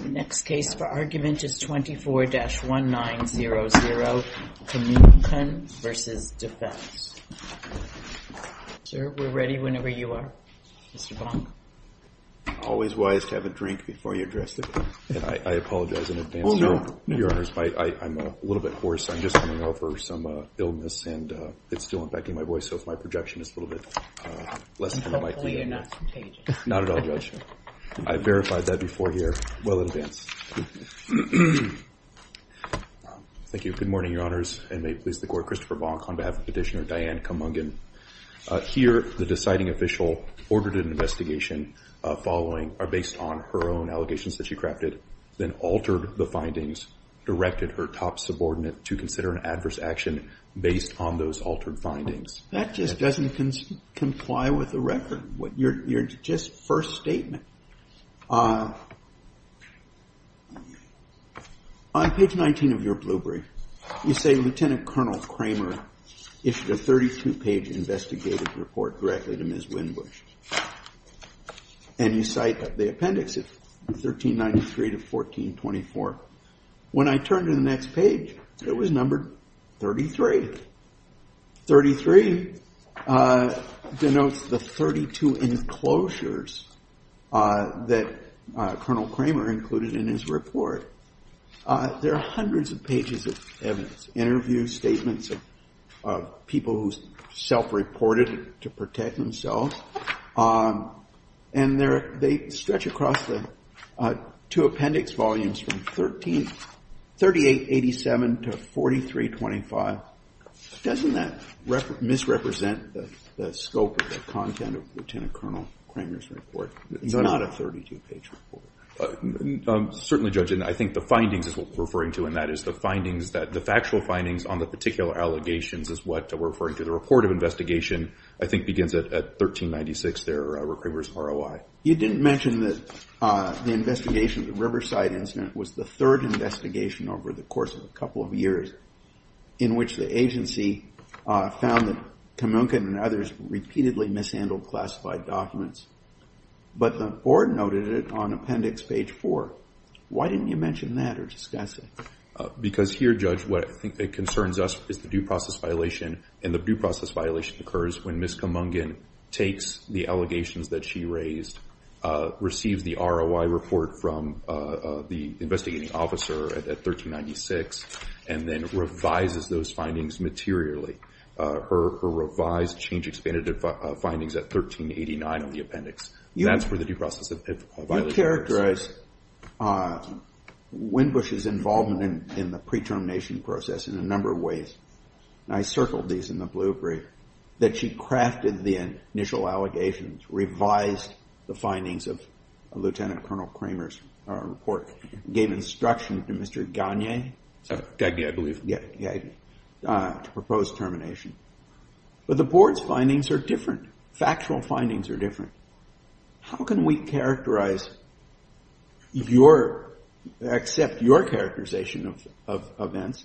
The next case for argument is 24-1900 Kammunkun v. Defense. Sir, we're ready whenever you are. Mr. Bonk. Always wise to have a drink before you address the court. And I apologize in advance, Your Honor, I'm a little bit hoarse. I'm just coming over some illness, and it's still impacting my voice, so if my projection is a little bit less than it might be. Hopefully you're not contagious. Not at all, Judge. I verified that before here. Well in advance. Thank you. Good morning, Your Honors. And may it please the court, Christopher Bonk on behalf of Petitioner Diane Kammunkun. Here, the deciding official ordered an investigation following, or based on, her own allegations that she crafted, then altered the findings, directed her top subordinate to consider an adverse action based on those altered findings. That just doesn't comply with the record. You're just first statement. On page 19 of your blue brief, you say, Lieutenant Colonel Kramer issued a 32-page investigative report directly to Ms. Winbush. And you cite the appendix of 1393 to 1424. When I turned to the next page, it was numbered 33. 33 denotes the 32 enclosures that Colonel Kramer included in his report. There are hundreds of pages of evidence, interviews, statements of people who self-reported to protect themselves. And they stretch across the two appendix volumes from 3887 to 4325. Doesn't that misrepresent the scope of the content of Lieutenant Colonel Kramer's report? It's not a 32-page report. Certainly, Judge. And I think the findings is what we're referring to. And that is the findings that the factual findings on the particular allegations is what we're referring to the report of investigation, I think begins at 1396 there, where Kramer's ROI. You didn't mention that the investigation of the Riverside incident was the third investigation over the course of a couple of years in which the agency found that Kumungan and others repeatedly mishandled classified documents. But the board noted it on appendix page 4. Why didn't you mention that or discuss it? Because here, Judge, what I think that concerns us is the due process violation. And the due process violation occurs when Ms. Kumungan takes the allegations that she raised, receives the ROI report from the investigating officer at 1396, and then revises those findings materially. Her revised change expanded findings at 1389 on the appendix. That's where the due process violation occurs. You characterize Windbush's involvement in the pre-termination process in a number of ways. And I circled these in the blue brief. That she crafted the initial allegations, revised the findings of Lieutenant Colonel Kramer's report, gave instruction to Mr. Gagne to propose termination. But the board's findings are different. Factual findings are different. How can we accept your characterization of events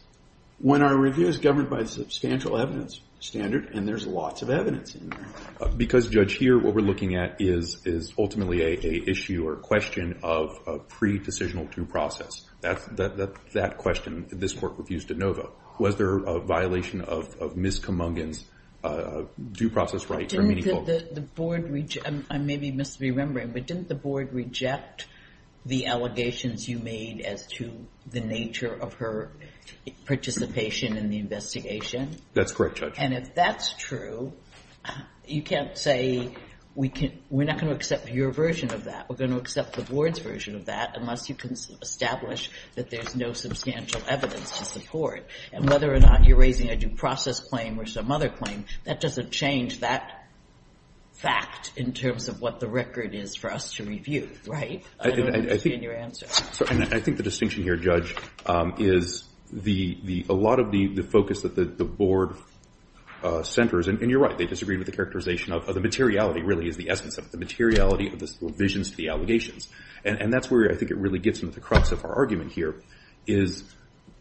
when our review is governed by a substantial evidence standard and there's lots of evidence in there? Because, Judge, here what we're looking at is ultimately a issue or question of pre-decisional due process. That question, this court refused to know though. Was there a violation of Ms. Kumungan's due process rights? Didn't the board, I may be misremembering, but didn't the board reject the allegations you made as to the nature of her participation in the investigation? That's correct, Judge. And if that's true, you can't say, we're not going to accept your version of that. We're going to accept the board's version of that unless you can establish that there's no substantial evidence to support. And whether or not you're raising a due process claim or some other claim, that doesn't change that fact in terms of what the record is for us to review, right? I don't understand your answer. I think the distinction here, Judge, is a lot of the focus that the board centers, and you're right, they disagree with the characterization of the materiality really is the essence of it. The materiality of the revisions to the allegations. And that's where I think it really gets into the crux of our argument here, is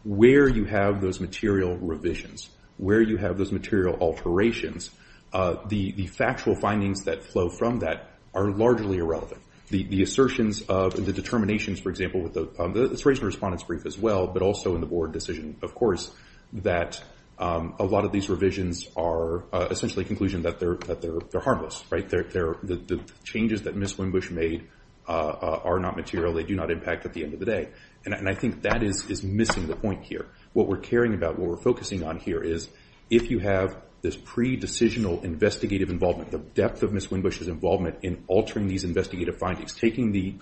where you have those material revisions, where you have those material alterations, the factual findings that flow from that are largely irrelevant. The assertions of the determinations, for example, it's raised in the respondents brief as well, but also in the board decision, of course, that a lot of these revisions are essentially a conclusion that they're harmless, right? The changes that Ms. Winbush made are not material. They do not impact at the end of the day. And I think that is missing the point here. What we're caring about, what we're focusing on here is, if you have this pre-decisional investigative involvement, the depth of Ms. Winbush's involvement in altering these investigative findings, taking the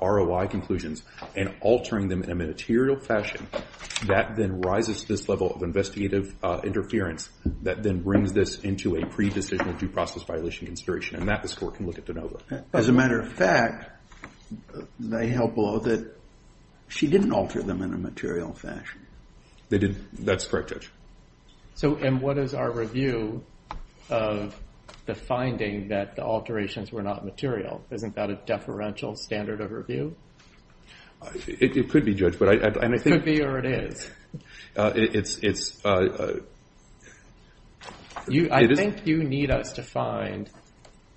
ROI conclusions, and altering them in a material fashion, that then rises to this level of investigative interference that then brings this into a pre-decisional due process violation consideration. And that, the score can look at de novo. As a matter of fact, they held below that she didn't alter them in a material fashion. They didn't. That's correct, Judge. So and what is our review of the finding that the alterations were not material? Isn't that a deferential standard of review? It could be, Judge. But I think it could be, or it is. I think you need us to find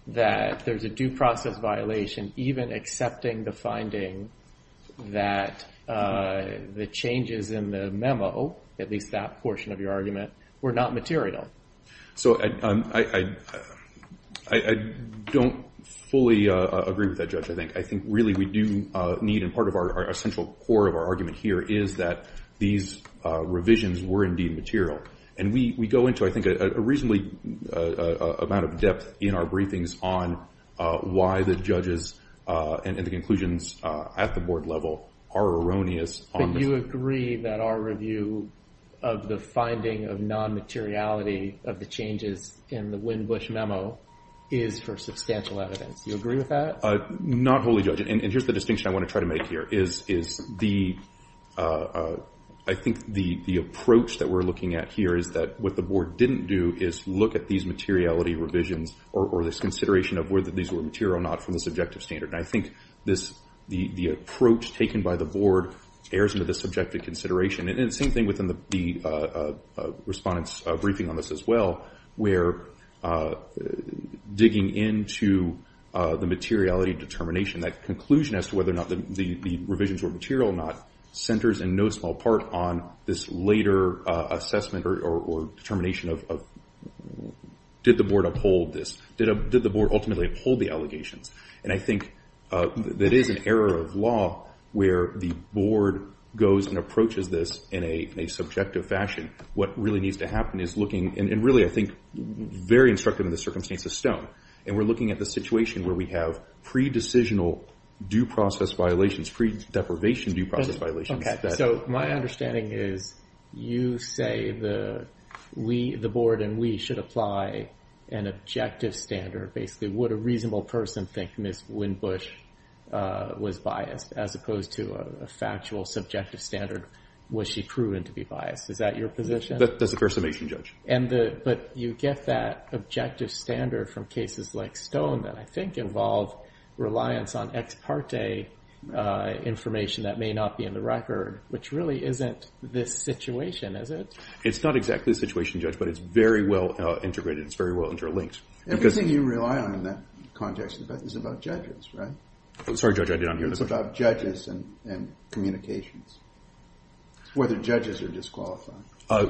that there's a due process violation, even accepting the finding that the changes in the memo, at least that portion of your argument, were not material. So I don't fully agree with that, Judge, I think. I think really we do need, and part of our central core of our argument here is that these revisions were indeed material. And we go into, I think, a reasonably amount of depth in our briefings on why the judges and the conclusions at the board level are erroneous on this. But you agree that our review of the finding of non-materiality of the changes in the Windbush memo is for substantial evidence. You agree with that? Not wholly, Judge. And here's the distinction I want to try to make here, is I think the approach that we're looking at here is that what the board didn't do is look at these materiality revisions, or this consideration of whether these were material or not from the subjective standard. And I think the approach taken by the board errs into the subjective consideration. And the same thing within the respondent's briefing on this as well, where digging into the materiality determination, that conclusion as to whether or not the revisions were material or not, centers in no small part on this later assessment or determination of did the board uphold this? Did the board ultimately uphold the allegations? And I think that is an error of law where the board goes and approaches this in a subjective fashion. What really needs to happen is looking, and really I think very instructive in the circumstance of Stone, and we're looking at the situation where we have pre-decisional due process violations, pre-deprivation due process violations. So my understanding is you say the board and we should apply an objective standard, basically. Would a reasonable person think Ms. Windbush was biased, as opposed to a factual, subjective standard? Was she proven to be biased? Is that your position? That's the first summation, Judge. But you get that objective standard from cases like Stone that I think involve reliance on ex parte information that may not be in the record, which really isn't this situation, is it? It's not exactly the situation, Judge, but it's very well integrated. It's very well interlinked. Everything you rely on in that context is about judges, right? I'm sorry, Judge, I did not hear the question. It's about judges and communications, whether judges are disqualified.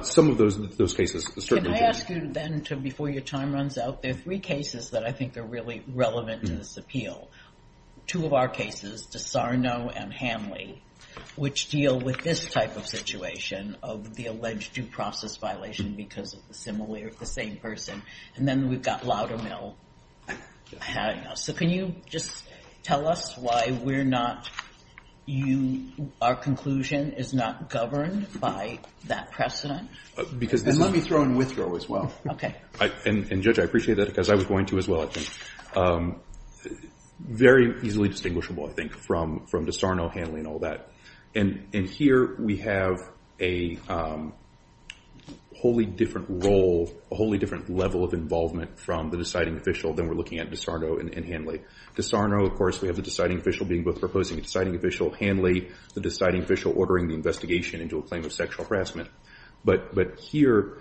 Some of those cases, certainly judges. Can I ask you then, before your time runs out, there are three cases that I think are really relevant to this appeal. Two of our cases, DeSarno and Hanley, which deal with this type of situation of the alleged due process violation because of the same person. And then we've got Loudermill having us. So can you just tell us why our conclusion is not governed by that precedent? And let me throw in Withrow as well. And Judge, I appreciate that because I was going to as well. Very easily distinguishable, I think, from DeSarno, Hanley, and all that. And here we have a wholly different role, a wholly different level of involvement from the deciding official than we're looking at DeSarno and Hanley. DeSarno, of course, we have the deciding official being both proposing a deciding official. Hanley, the deciding official ordering the investigation into a claim of sexual harassment. But here,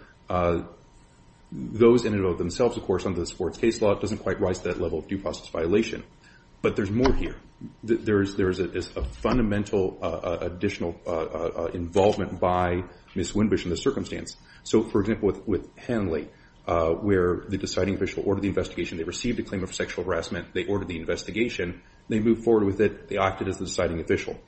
those in and of themselves, of course, under the sports case law, it doesn't quite rise to that level of due process violation. But there's more here. There is a fundamental additional involvement by Ms. Windbush in this circumstance. So for example, with Hanley, where the deciding official ordered the investigation. They received a claim of sexual harassment. They ordered the investigation. They moved forward with it. They acted as the deciding official.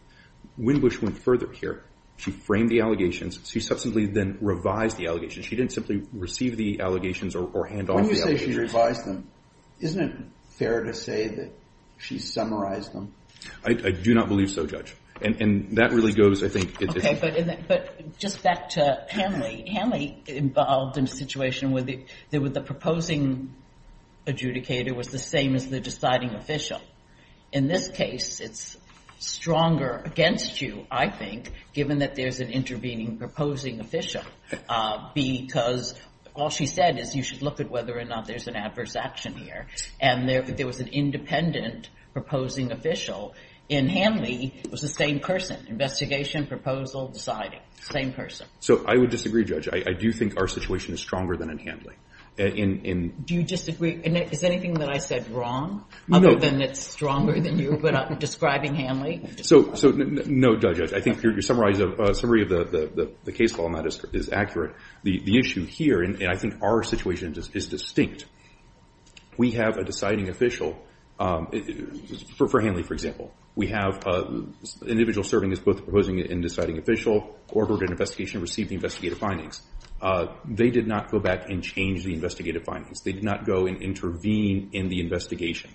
Windbush went further here. She framed the allegations. She subsequently then revised the allegations. She didn't simply receive the allegations or hand off the allegations. When you say she revised them, isn't it fair to say that she summarized them? I do not believe so, Judge. And that really goes, I think, it's a OK, but just back to Hanley. Hanley involved in a situation where the proposing adjudicator was the same as the deciding official. In this case, it's stronger against you, I think, given that there's an intervening proposing official. Because all she said is, you should look at whether or not there's an adverse action here. And there was an independent proposing official. And Hanley was the same person. Investigation, proposal, deciding, same person. So I would disagree, Judge. I do think our situation is stronger than in Hanley. Do you disagree? Is anything that I said wrong, other than it's stronger than you, describing Hanley? So no, Judge. I think your summary of the case law on that is accurate. The issue here, and I think our situation is distinct. We have a deciding official, for Hanley, for example. We have an individual serving as both the proposing and deciding official, ordered an investigation, received the investigative findings. They did not go back and change the investigative findings. They did not go and intervene in the investigation.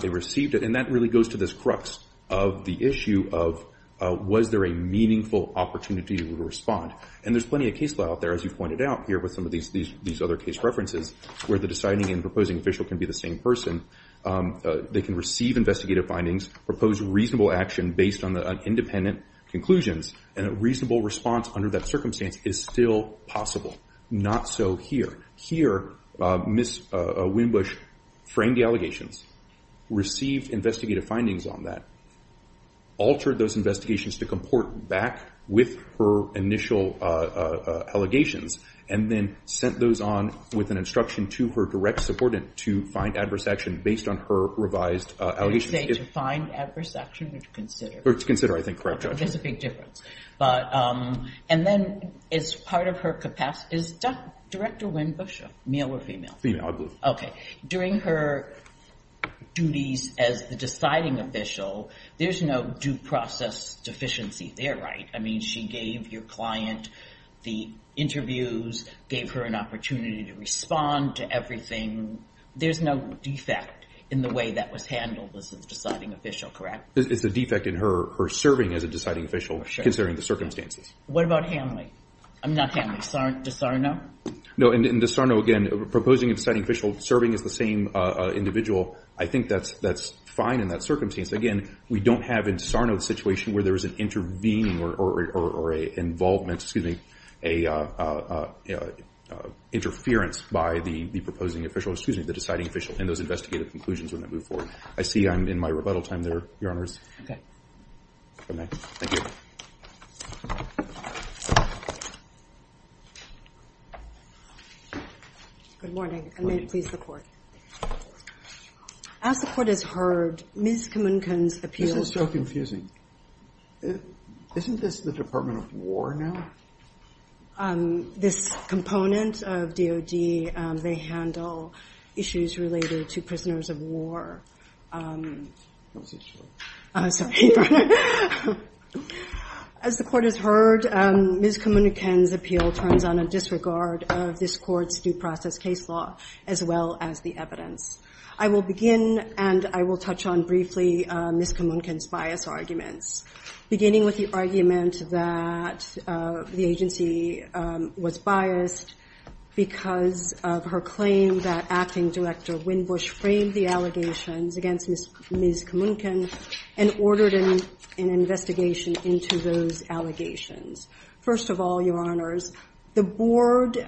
They received it. And that really goes to this crux of the issue of, was there a meaningful opportunity to respond? And there's plenty of case law out there, as you pointed out here with some of these other case references, where the deciding and proposing official can be the same person. They can receive investigative findings, propose reasonable action based on the independent conclusions, and a reasonable response under that circumstance is still possible. Not so here. Here, Ms. Winbush framed the allegations, received investigative findings on that, altered those investigations to comport back with her initial allegations, and then sent those on with an instruction to her direct supportant to find adverse action based on her revised allegations. Did you say to find adverse action or to consider? Or to consider, I think, correct, Judge? I think there's a big difference. And then as part of her capacity, is Director Winbush male or female? Female, I believe. OK. During her duties as the deciding official, there's no due process deficiency there, right? I mean, she gave your client the interviews, gave her an opportunity to respond to everything. There's no defect in the way that was handled as a deciding official, correct? It's a defect in her serving as a deciding official, considering the circumstances. What about Hanley? I'm not Hanley. No, and DiSarno, again, proposing a deciding official, serving as the same individual, I think that's fine in that circumstance. Again, we don't have in DiSarno the situation where there is an intervening or a involvement, excuse me, a interference by the proposing official, excuse me, the deciding official in those investigative conclusions when they move forward. I see I'm in my rebuttal time there, Your Honors. Good night. Thank you. Good morning. Good morning. And may it please the Court. As the Court has heard, Ms. Kamunkan's appeal to the Court This is so confusing. Isn't this the Department of War now? This component of DOD, they handle issues related to prisoners of war. As the Court has heard, Ms. Kamunkan's appeal turns on a disregard of this Court's due process case law, as well as the evidence. I will begin, and I will touch on briefly Ms. Kamunkan's bias arguments, beginning with the argument that the agency was biased because of her claim that acting director, Winbush, framed the allegations against Ms. Kamunkan and ordered an investigation into those allegations. First of all, Your Honors, the board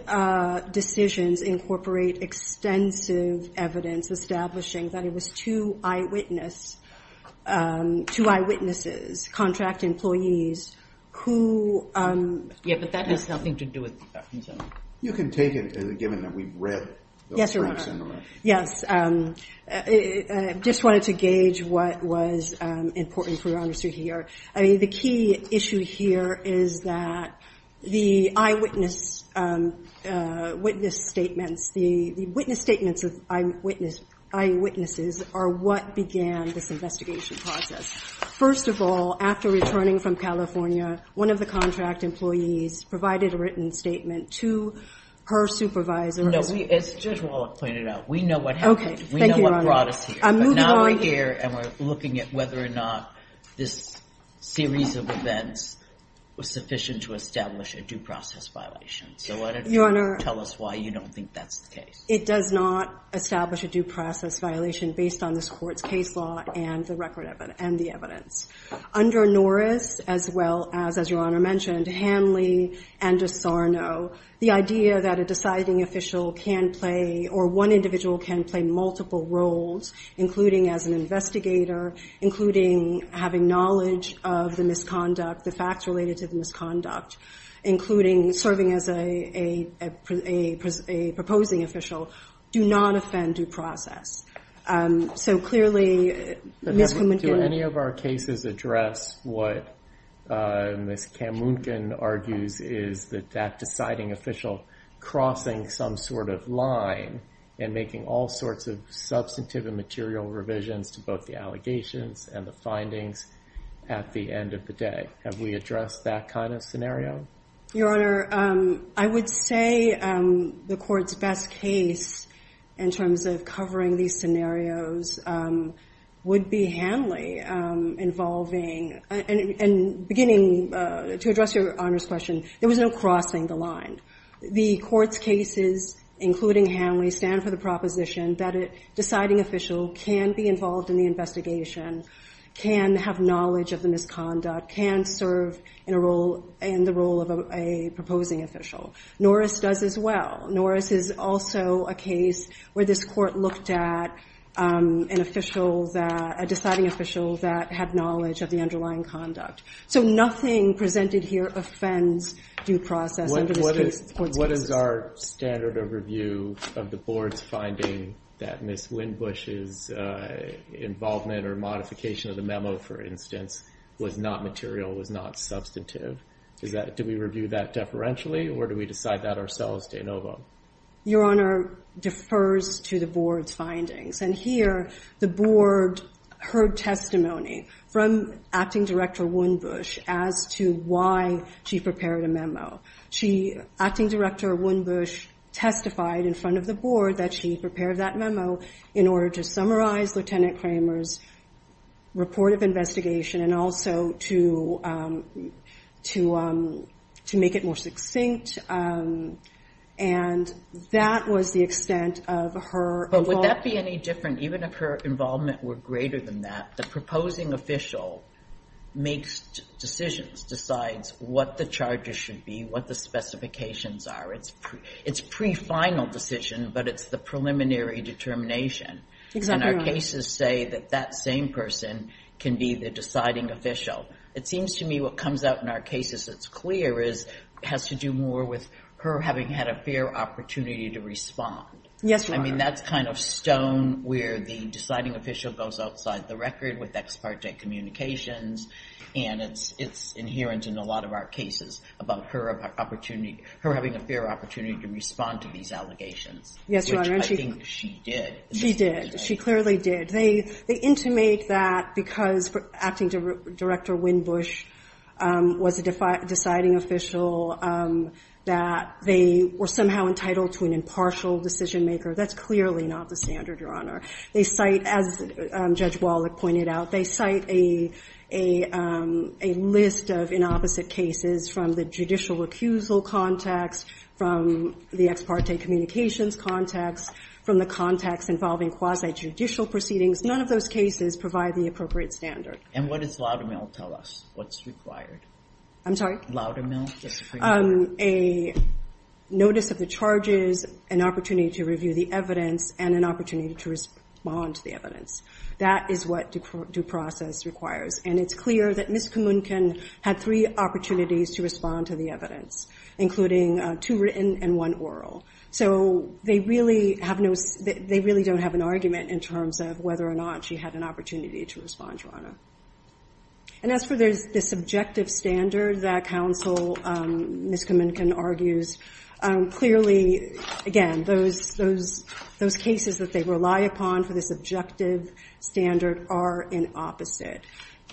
decisions incorporate extensive evidence establishing that it was two eyewitnesses, contract employees, who Yeah, but that has nothing to do with that. You can take it, given that we've read those briefs. Yes, I just wanted to gauge what was important for Your Honors to hear. I mean, the key issue here is that the eyewitness statements, the witness statements of eyewitnesses are what began this investigation process. First of all, after returning from California, one of the contract employees provided a written statement to her supervisor. No, as Judge Wallach pointed out, we know what happened. OK, thank you, Your Honor. We know what brought us here. I'm moving on here. But now we're here, and we're looking at whether or not this series of events was sufficient to establish a due process violation. So why don't you tell us why you don't think that's the case. It does not establish a due process violation based on this court's case law and the record evidence and the evidence. Under Norris, as well as, as Your Honor mentioned, Hanley and Asarnow, the idea that a deciding official can play, or one individual can play, multiple roles, including as an investigator, including having knowledge of the misconduct, the facts related to the misconduct, including serving as a proposing official, do not offend due process. So clearly, Ms. Kamunkan. does address what Ms. Kamunkan argues is that that deciding official crossing some sort of line and making all sorts of substantive and material revisions to both the allegations and the findings at the end of the day. Have we addressed that kind of scenario? Your Honor, I would say the court's best case in terms of covering these scenarios would be Hanley involving, and beginning to address Your Honor's question, there was no crossing the line. The court's cases, including Hanley, stand for the proposition that a deciding official can be involved in the investigation, can have knowledge of the misconduct, can serve in the role of a proposing official. Norris does as well. Norris is also a case where this court looked at a deciding official that had knowledge of the underlying conduct. So nothing presented here offends due process under this court's cases. What is our standard of review of the board's finding that Ms. Winbush's involvement or modification of the memo, for instance, was not material, was not substantive? Do we review that deferentially, or do we decide that ourselves, de novo? Your Honor, defers to the board's findings. And here, the board heard testimony from acting director Winbush as to why she prepared a memo. Acting director Winbush testified in front of the board that she prepared that memo in order to summarize Lieutenant Kramer's report of investigation and also to make it more succinct and that was the extent of her involvement. But would that be any different even if her involvement were greater than that? The proposing official makes decisions, decides what the charges should be, what the specifications are. It's pre-final decision, but it's the preliminary determination. And our cases say that that same person can be the deciding official. It seems to me what comes out in our cases that's clear has to do more with her having had a fair opportunity to respond. Yes, Your Honor. I mean, that's kind of stone where the deciding official goes outside the record with ex parte communications. And it's inherent in a lot of our cases about her having a fair opportunity to respond to these allegations, which I think she did. She did. She clearly did. They intimate that because acting director Winbush was a deciding official that they were somehow entitled to an impartial decision maker. That's clearly not the standard, Your Honor. They cite, as Judge Wallach pointed out, they cite a list of inopposite cases from the judicial recusal context, from the ex parte communications context, from the context involving quasi-judicial proceedings. None of those cases provide the appropriate standard. And what does Laudamill tell us what's required? I'm sorry? Laudamill. A notice of the charges, an opportunity to review the evidence, and an opportunity to respond to the evidence. That is what due process requires. And it's clear that Ms. Kamunkan had three opportunities to respond to the evidence, including two written and one oral. So they really don't have an argument in terms of whether or not she had an opportunity to respond, Your Honor. And as for the subjective standard that counsel Ms. Kamunkan argues, clearly, again, those cases that they rely upon for the subjective standard are an opposite.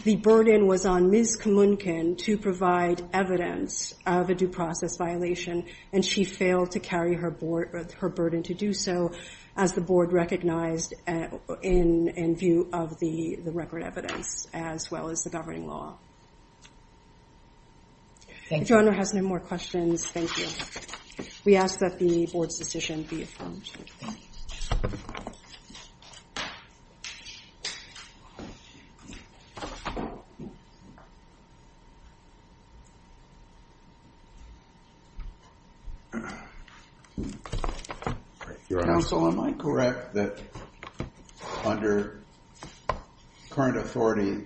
The burden was on Ms. Kamunkan to provide evidence of a due process violation. And she failed to carry her burden and to do so as the board recognized in view of the record evidence, as well as the governing law. If Your Honor has no more questions, thank you. We ask that the board's decision be affirmed. Counsel, am I correct that under current authority,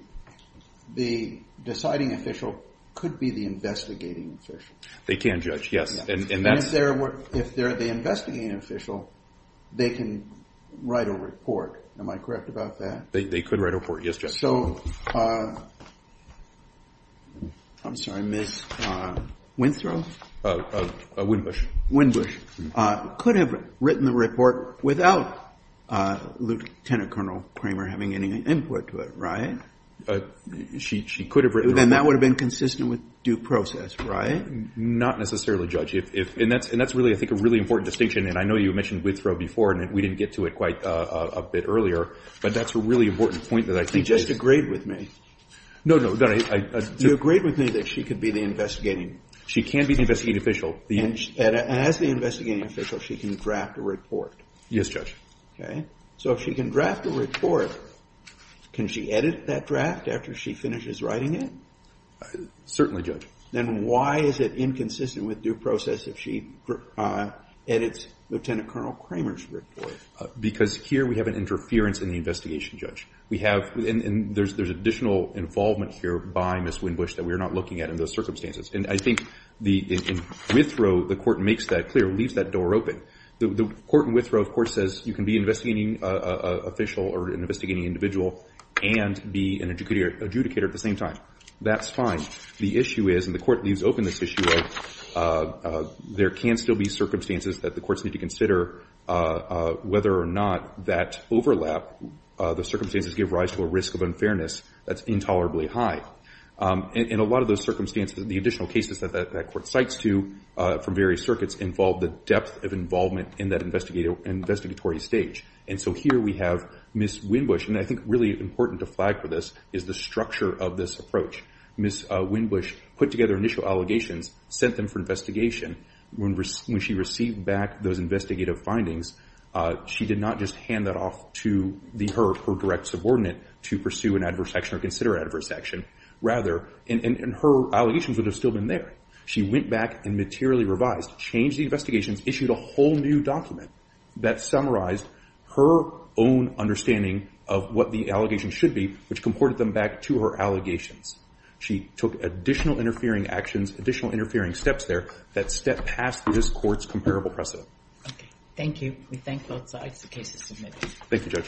the deciding official could be the investigating official? They can, Judge, yes. And that's their work. If they're the investigating official, they can write a report. Am I correct about that? They could write a report, yes, Judge. So I'm sorry, Ms. Winthrow? Winbush. Winbush. Could have written the report without Lieutenant Colonel Kramer having any input to it, right? She could have written the report. Then that would have been consistent with due process, right? Not necessarily, Judge. And that's really, I think, a really important distinction. And I know you mentioned Winthrow before, and we didn't get to it quite a bit earlier. But that's a really important point that I think is. You just agreed with me. No, no. You agreed with me that she could be the investigating. She can be the investigating official. And as the investigating official, she can draft a report. Yes, Judge. So if she can draft a report, can she edit that draft after she finishes writing it? Certainly, Judge. Then why is it inconsistent with due process if she edits Lieutenant Colonel Kramer's report? Because here we have an interference in the investigation, Judge. We have, and there's additional involvement here by Ms. Winbush that we're not looking at in those circumstances. And I think in Winthrow, the court makes that clear, leaves that door open. The court in Winthrow, of course, says you can be an investigating official or an investigating individual and be an adjudicator at the same time. That's fine. The issue is, and the court leaves open this issue of, there can still be circumstances that the courts need to consider whether or not that overlap, the circumstances give rise to a risk of unfairness that's intolerably high. In a lot of those circumstances, the additional cases that that court cites to from various circuits involve the depth of involvement in that investigatory stage. And so here we have Ms. Winbush. And I think really important to flag for this is the structure of this approach. Ms. Winbush put together initial allegations, sent them for investigation. When she received back those investigative findings, she did not just hand that off to her direct subordinate to pursue an adverse action or consider adverse action. Rather, and her allegations would have still been there. She went back and materially revised, changed the investigations, issued a whole new document that summarized her own understanding of what the allegation should be, which comported them back to her allegations. She took additional interfering actions, additional interfering steps there that step past this court's comparable precedent. OK. Thank you. We thank both sides. The case is submitted. Thank you, Judge.